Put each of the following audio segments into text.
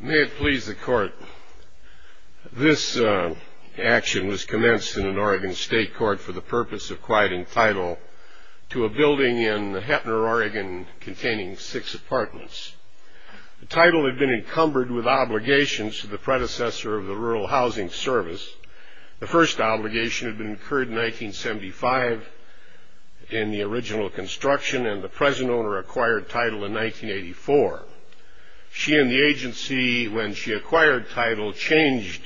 May it please the Court, this action was commenced in an Oregon state court for the purpose of quieting title to a building in Heppner, Oregon containing six apartments. The title had been encumbered with obligations to the predecessor of the Rural Housing Service. The first obligation had been incurred in 1975 in the original construction and the present owner acquired title in 1984. She and the agency, when she acquired title, changed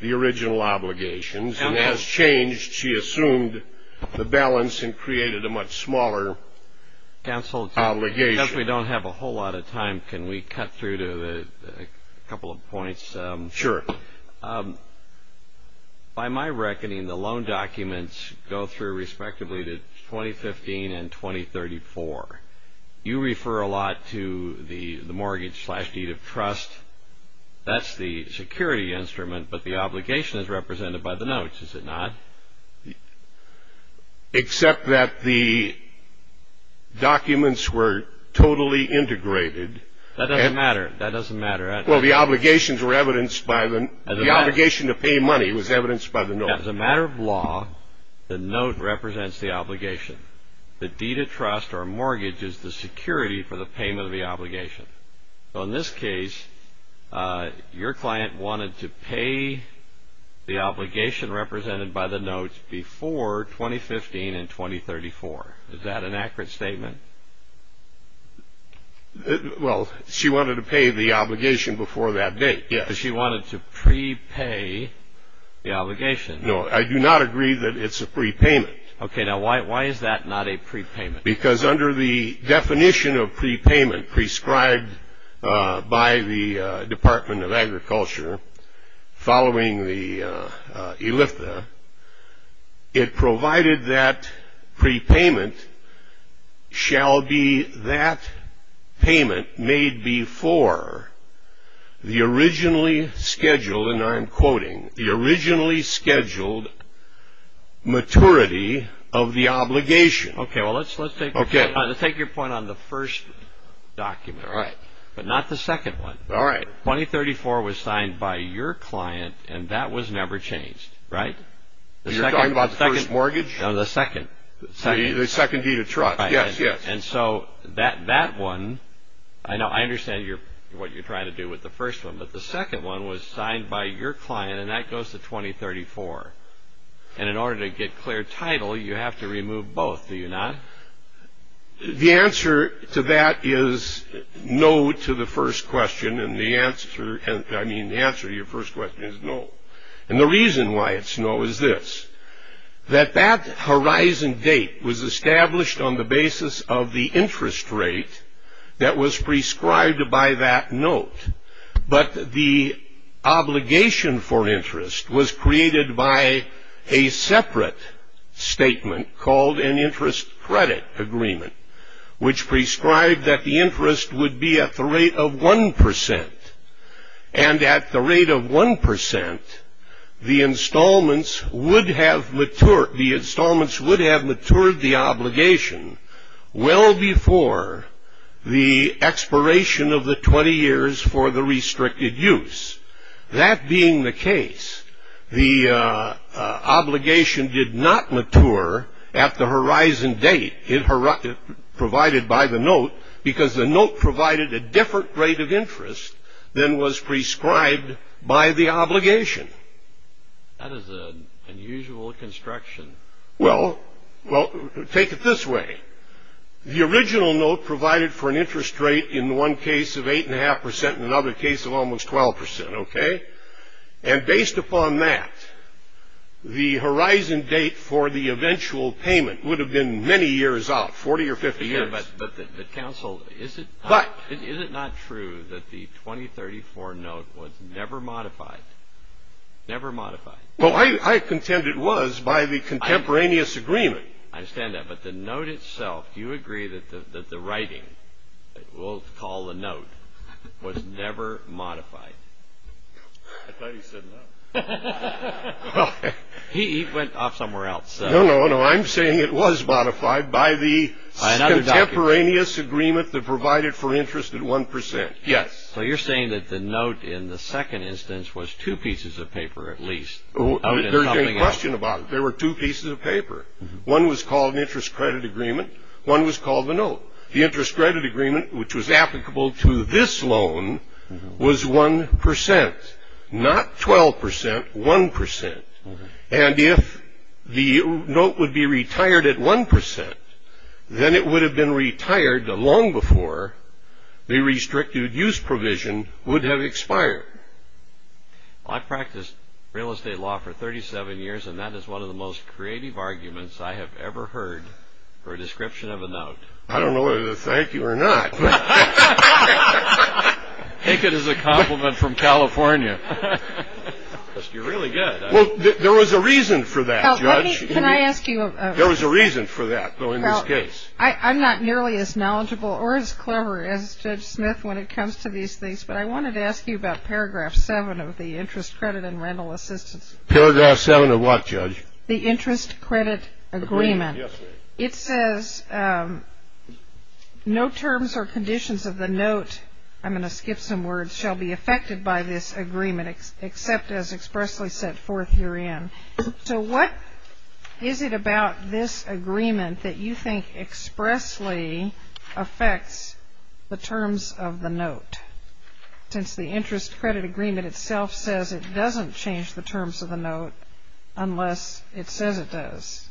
the original obligations and as changed she assumed the balance and created a much smaller obligation. Counsel, since we don't have a whole lot of time, can we cut through to a couple of points? Sure. By my reckoning the loan documents go through respectively to 2015 and 2034. You refer a lot to the mortgage slash deed of trust. That's the security instrument, but the obligation is represented by the notes, is it not? Except that the documents were totally integrated. That doesn't matter. That doesn't matter. Well, the obligations were evidenced by them. The obligation to pay money was evidenced by the notes. As a represents the obligation. The deed of trust or mortgage is the security for the payment of the obligation. So in this case, your client wanted to pay the obligation represented by the notes before 2015 and 2034. Is that an accurate statement? Well, she wanted to pay the obligation before that date, yes. She Okay, now why is that not a prepayment? Because under the definition of prepayment prescribed by the Department of Agriculture following the ELIFTA, it provided that prepayment shall be that payment made before the originally scheduled maturity of the obligation. Okay, well let's take your point on the first document, but not the second one. 2034 was signed by your client and that was never changed, right? You're talking about the first mortgage? No, the second. The second deed of trust, yes. And so that one, I know I understand what you're trying to do with the first one, but the second one was signed by your client and that goes to 2034. And in order to get clear title, you have to remove both, do you not? The answer to that is no to the first question and the answer, I mean the answer to your first question is no. And the reason why it's no is this. That that horizon date was established on the obligation for interest was created by a separate statement called an interest credit agreement, which prescribed that the interest would be at the rate of 1%. And at the rate of 1%, the installments would have matured, the installments would have matured the obligation well before the expiration of the 20 years for the restricted use. That being the case, the obligation did not mature at the horizon date provided by the note, because the note provided a different rate of interest than was prescribed by the obligation. That is an unusual construction. Well, take it this way. The original note provided for an interest rate in one case of 8.5% and another case of almost 12%, okay? And based upon that, the horizon date for the eventual payment would have been many years out, 40 or 50 years. But the counsel, is it not true that the 2034 note was never modified? Never modified. Well, I contend it was by the contemporaneous agreement. I understand that, but the note itself, do you agree that the writing, we'll call the note, was never modified? I thought he said no. He went off somewhere else. No, no, no, I'm saying it was modified by the contemporaneous agreement that provided for interest at 1%. Yes. So you're saying that the note in the second instance was two pieces of paper at least? There's no question about it. There were two pieces of paper. One was called an interest credit agreement. One was called the note. The interest credit agreement, which was applicable to this loan, was 1%. Not 12%, 1%. And if the note would be retired at 1%, then it would have been retired long before the restricted use provision would have expired. I practiced real estate law for 37 years, and that is one of the most creative arguments I have ever heard for a description of a note. I don't know whether to thank you or not. Take it as a compliment from California. You're really good. Well, there was a reason for that, Judge. Can I ask you? There was a reason for that, though, in this case. I'm not nearly as knowledgeable or as clever as Judge Smith when it comes to these things, but I wanted to ask you about paragraph 7 of the interest credit and rental assistance. Paragraph 7 of what, Judge? The interest credit agreement. It says, no terms or conditions of the note, I'm going to skip some words, shall be affected by this agreement except as expressly set forth herein. So what is it about this agreement that you think expressly affects the terms of the note? Since the interest credit agreement itself says it doesn't change the terms of the note unless it says it does.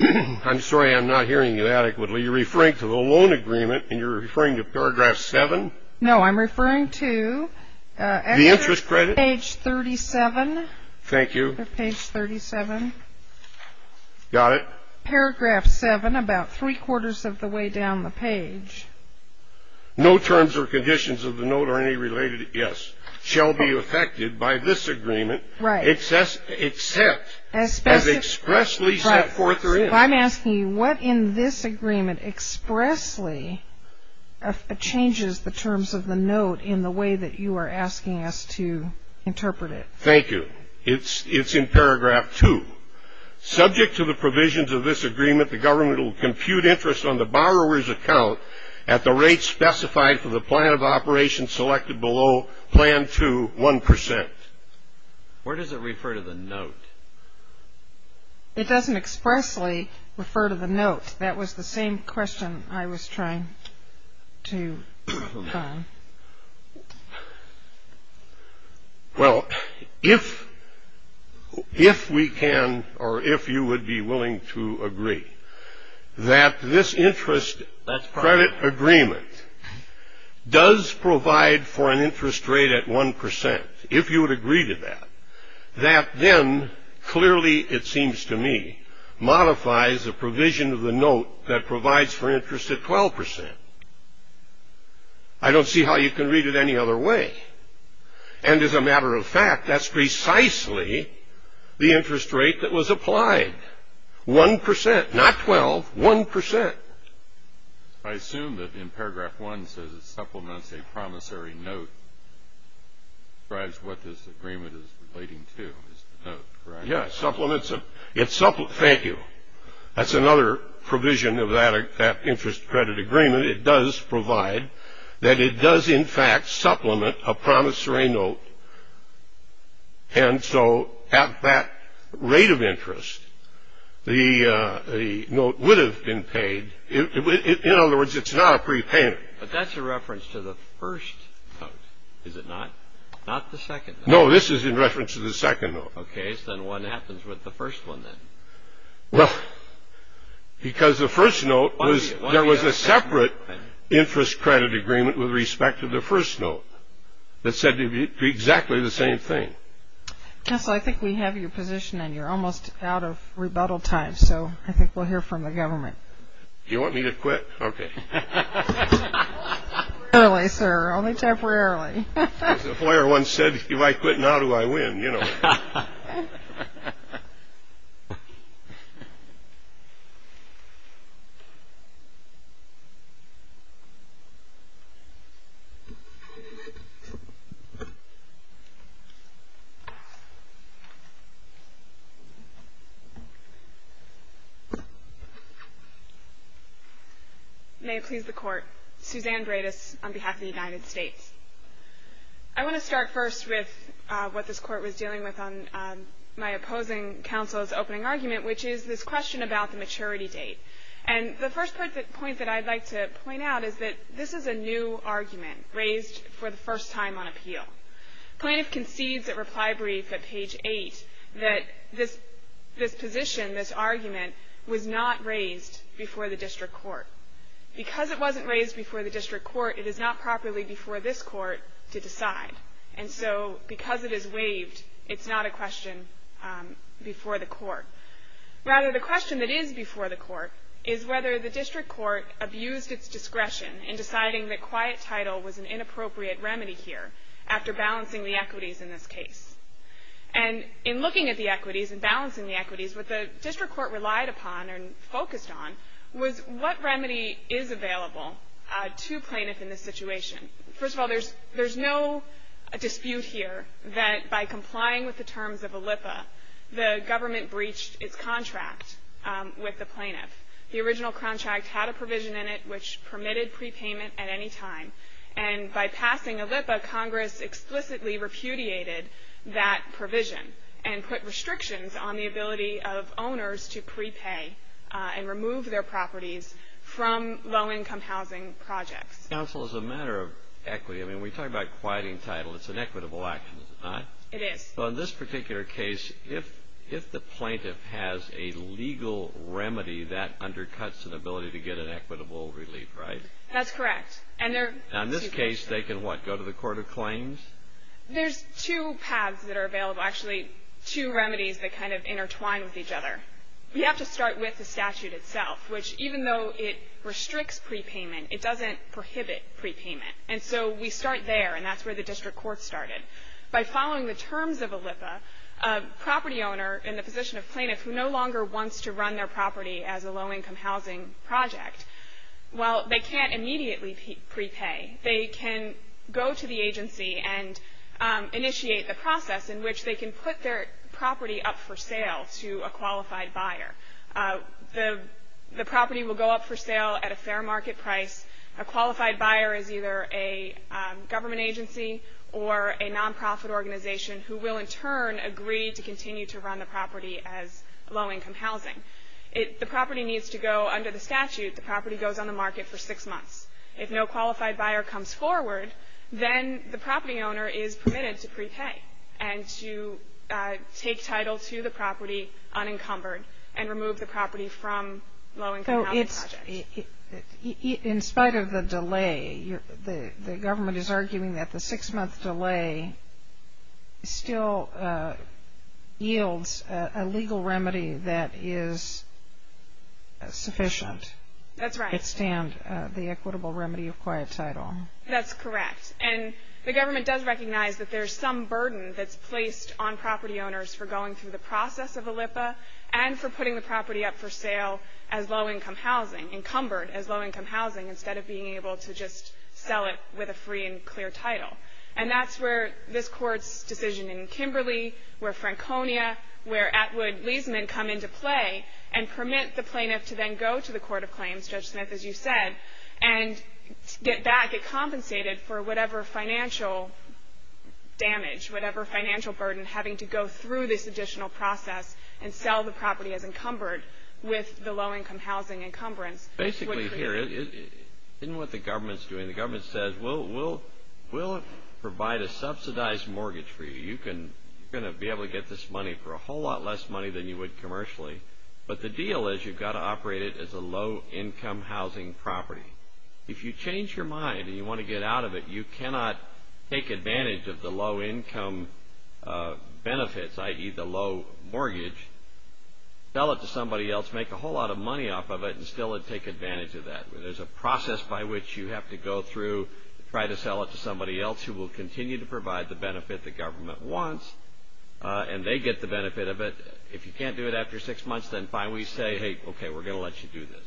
I'm sorry, I'm not hearing you adequately. You're referring to the loan agreement, and you're referring to paragraph 7? No, I'm referring to the interest credit page 37. Thank you. Page 37. Got it. Paragraph 7, about three-quarters of the way down the page. No terms or conditions of the note are any related, yes, shall be affected by this agreement, except as expressly set forth herein. I'm asking you, what in this agreement expressly changes the terms of the note in the way that you are asking us to interpret it? Thank you. It's in paragraph 2. Subject to the provisions of this agreement, the government will compute interest on the borrower's account at the rate specified for the plan of operation selected below Plan 2, 1%. Where does it refer to the note? It doesn't expressly refer to the note. That was the same question I was trying to find. Well, if we can, or if you would be willing to agree, that this interest credit agreement does provide for an interest rate at 1%, if you would agree to that, that then clearly, it seems to me, modifies the provision of the note that provides for interest at 12%. I don't see how you can read it any other way. And as a matter of fact, that's precisely the interest rate that was applied. 1%, not 12, 1%. I assume that in paragraph 1 says it supplements a promissory note, describes what this agreement is relating to, is the note, correct? Yes, supplements it. Thank you. That's another provision of that interest credit agreement. It does provide that it does, in fact, supplement a promissory note. And so at that rate of interest, the note would have been paid. In other words, it's not a prepayment. But that's a reference to the first note, is it not? Not the second? No, this is in reference to the second note. Okay, so then what happens with the first one then? Well, because the first note was, there was a separate interest credit agreement with respect to the first note that said exactly the same thing. Counselor, I think we have your position and you're almost out of rebuttal time. So I think we'll hear from the government. You want me to quit? Okay. Temporarily, sir. Only temporarily. As the lawyer once said, if you might quit, now do I win, you know. May it please the Court. Suzanne Bredis on behalf of the United States. I want to start first with what this Court was dealing with on my opposing counsel's opening argument, which is this question about the maturity date. And the first point that I'd like to point out is that this is a new argument raised for the first time on appeal. Plaintiff concedes at reply brief at page 8 that this position, this argument, was not raised before the district court. Because it wasn't raised before the district court, it is not properly before this court to decide. And so because it is waived, it's not a question before the court. Rather, the question that is before the court is whether the district court abused its discretion in deciding that quiet title was an inappropriate remedy here after balancing the equities in this case. And in looking at the equities and balancing the equities, what the district court relied upon and focused on was what remedy is available to plaintiff in this situation. First of all, there's no dispute here that by complying with the terms of ALLIPA, the government breached its contract with the plaintiff. The original contract had a provision in it which permitted prepayment at any time. And by passing ALLIPA, Congress explicitly repudiated that provision and put restrictions on the ability of owners to prepay and remove their properties from low-income housing projects. Counsel, as a matter of equity, I mean, we talk about quieting title. It's an equitable action, is it not? It is. So in this particular case, if the plaintiff has a legal remedy that undercuts an ability to get an equitable relief, right? That's correct. And in this case, they can, what, go to the court of claims? There's two paths that are available. Actually, two remedies that kind of intertwine with each other. We have to start with the statute itself, which even though it restricts prepayment, it doesn't prohibit prepayment. And so we start there, and that's where the district court started. By following the terms of ALLIPA, a property owner in the position of plaintiff who no longer wants to run their property as a low-income housing project, well, they can't immediately prepay. They can go to the agency and initiate the process in which they can put their property up for sale to a qualified buyer. The property will go up for sale at a fair market price. A qualified buyer is either a government agency or a nonprofit organization who will in turn agree to continue to run the property as low-income housing. The property needs to go under the statute. The property goes on the market for six months. If no qualified buyer comes forward, then the property owner is permitted to prepay and to take title to the property unencumbered and remove the property from low-income housing project. In spite of the delay, the government is arguing that the six-month delay still yields a legal remedy that is sufficient. That's right. I understand the equitable remedy of quiet title. That's correct. And the government does recognize that there's some burden that's placed on property owners for going through the process of ALLIPA and for putting the property up for sale as low-income housing, encumbered as low-income housing, instead of being able to just sell it with a free and clear title. And that's where this Court's decision in Kimberly, where Franconia, where Atwood-Leisman come into play and permit the plaintiff to then go to the Court of Claims, Judge Smith, as you said, and get back, get compensated for whatever financial damage, whatever financial burden, having to go through this additional process and sell the property as encumbered with the low-income housing encumbrance. Basically, here, in what the government's doing, the government says, we'll provide a subsidized mortgage for you. You're going to be able to get this money for a whole lot less money than you would commercially. But the deal is, you've got to operate it as a low-income housing property. If you change your mind and you want to get out of it, you cannot take advantage of the low-income benefits, i.e., the low mortgage, sell it to somebody else, make a whole lot of money off of it, and still take advantage of that. There's a process by which you have to go through to try to sell it to somebody else who will continue to provide the benefit the government wants, and they get the benefit of it. If you can't do it after six months, then fine, we say, hey, okay, we're going to let you do this.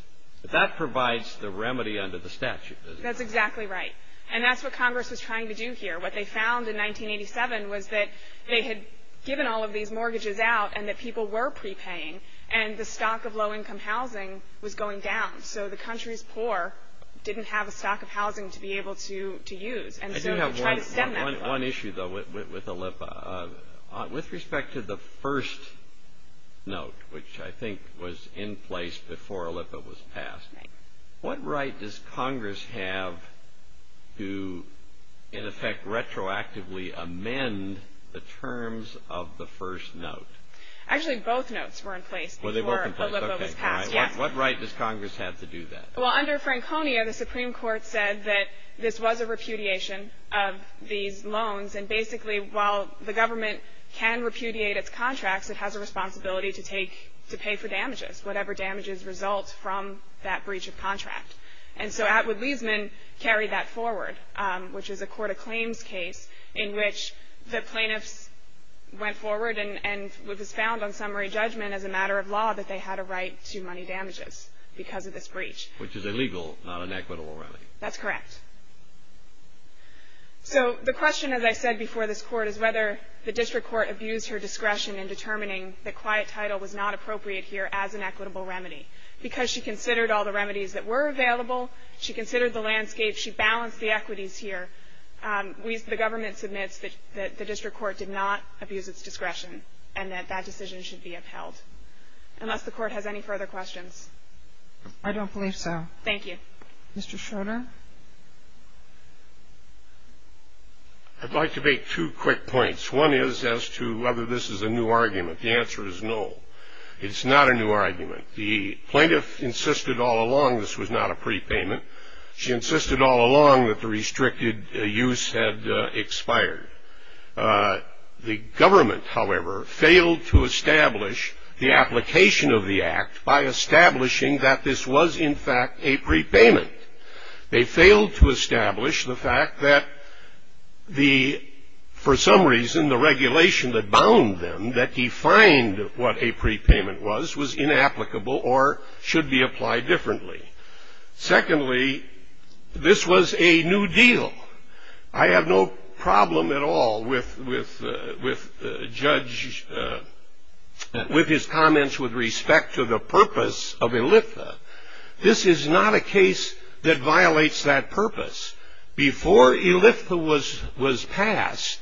But that provides the remedy under the statute, doesn't it? That's exactly right. And that's what Congress was trying to do here. What they found in 1987 was that they had given all of these mortgages out and that people were prepaying, and the stock of low-income housing was going down. So the country's poor didn't have a stock of housing to be able to use. And so to try to stem that. One issue, though, with ELIPA. With respect to the first note, which I think was in place before ELIPA was passed, what right does Congress have to, in effect, retroactively amend the terms of the first note? Actually, both notes were in place before ELIPA was passed, yes. What right does Congress have to do that? Well, under Franconia, the Supreme Court said that this was a repudiation of these loans. And basically, while the government can repudiate its contracts, it has a responsibility to take, to pay for damages, whatever damages result from that breach of contract. And so Atwood-Leisman carried that forward, which is a court of claims case in which the plaintiffs went forward and it was found on summary judgment as a matter of law that they had a right to money damages because of this breach. Which is illegal, not an equitable remedy. That's correct. So the question, as I said before this court, is whether the district court abused her discretion in determining that quiet title was not appropriate here as an equitable remedy. Because she considered all the remedies that were available. She considered the landscape. She balanced the equities here. The government submits that the district court did not abuse its discretion and that that decision should be upheld. Unless the court has any further questions. I don't believe so. Thank you. Mr. Schroeder? I'd like to make two quick points. One is as to whether this is a new argument. The answer is no. It's not a new argument. The plaintiff insisted all along this was not a prepayment. She insisted all along that the restricted use had expired. The government, however, failed to establish the application of the act by establishing that this was, in fact, a prepayment. They failed to establish the fact that the, for some reason, the regulation that bound them that defined what a prepayment was, was inapplicable or should be applied differently. Secondly, this was a new deal. I have no problem at all with Judge, with his comments with respect to the purpose of ELIFTA. This is not a case that violates that purpose. Before ELIFTA was passed,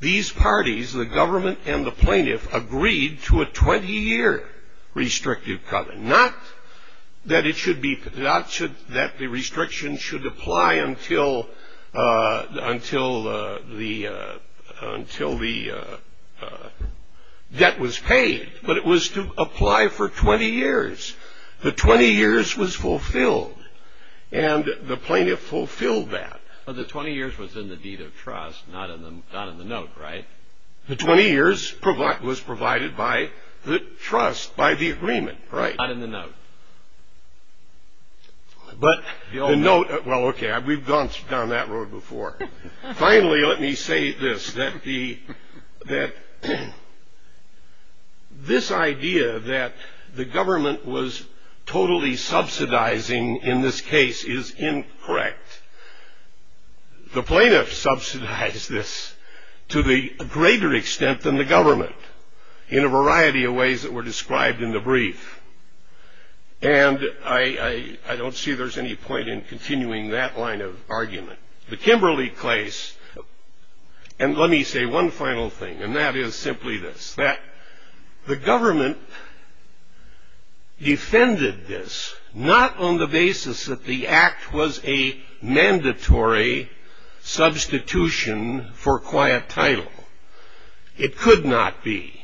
these parties, the government and the plaintiff, agreed to a 20-year restrictive covenant. Not that it should be, not that the restriction should apply until the debt was paid, but it was to apply for 20 years. The 20 years was fulfilled, and the plaintiff fulfilled that. The 20 years was in the deed of trust, not in the note, right? The 20 years was provided by the trust, by the agreement, right. Not in the note. But the note, well, okay, we've gone down that road before. Finally, let me say this, that the, that this idea that the government was totally subsidizing in this case is incorrect. The plaintiff subsidized this to the greater extent than the government in a variety of ways that were described in the brief. And I don't see there's any point in continuing that line of argument. The Kimberly case, and let me say one final thing, and that is simply this, that the government defended this not on the basis that the act was a mandatory substitution for quiet title. It could not be.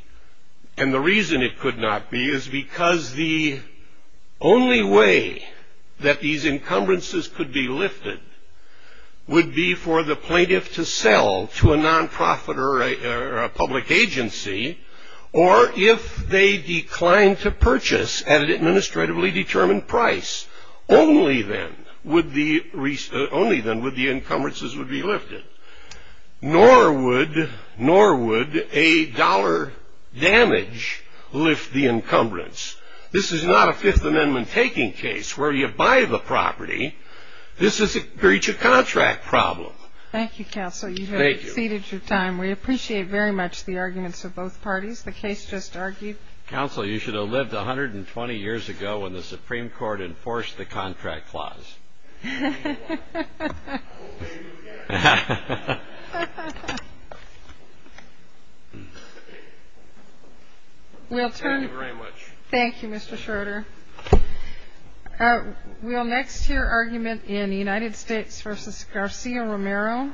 And the reason it could not be is because the only way that these encumbrances could be lifted would be for the plaintiff to sell to a nonprofit or a public agency, or if they declined to purchase at an administratively determined price. Only then would the, only then would the encumbrances would be lifted. Nor would, nor would a dollar damage lift the encumbrance. This is not a Fifth Amendment taking case where you buy the property. This is a breach of contract problem. Thank you, Counsel. You have exceeded your time. We appreciate very much the arguments of both parties. The case just argued. Counsel, you should have lived 120 years ago when the Supreme Court enforced the contract clause. Thank you very much. Thank you, Mr. Schroeder. We'll next hear argument in the United States versus Garcia-Romero. Thank you.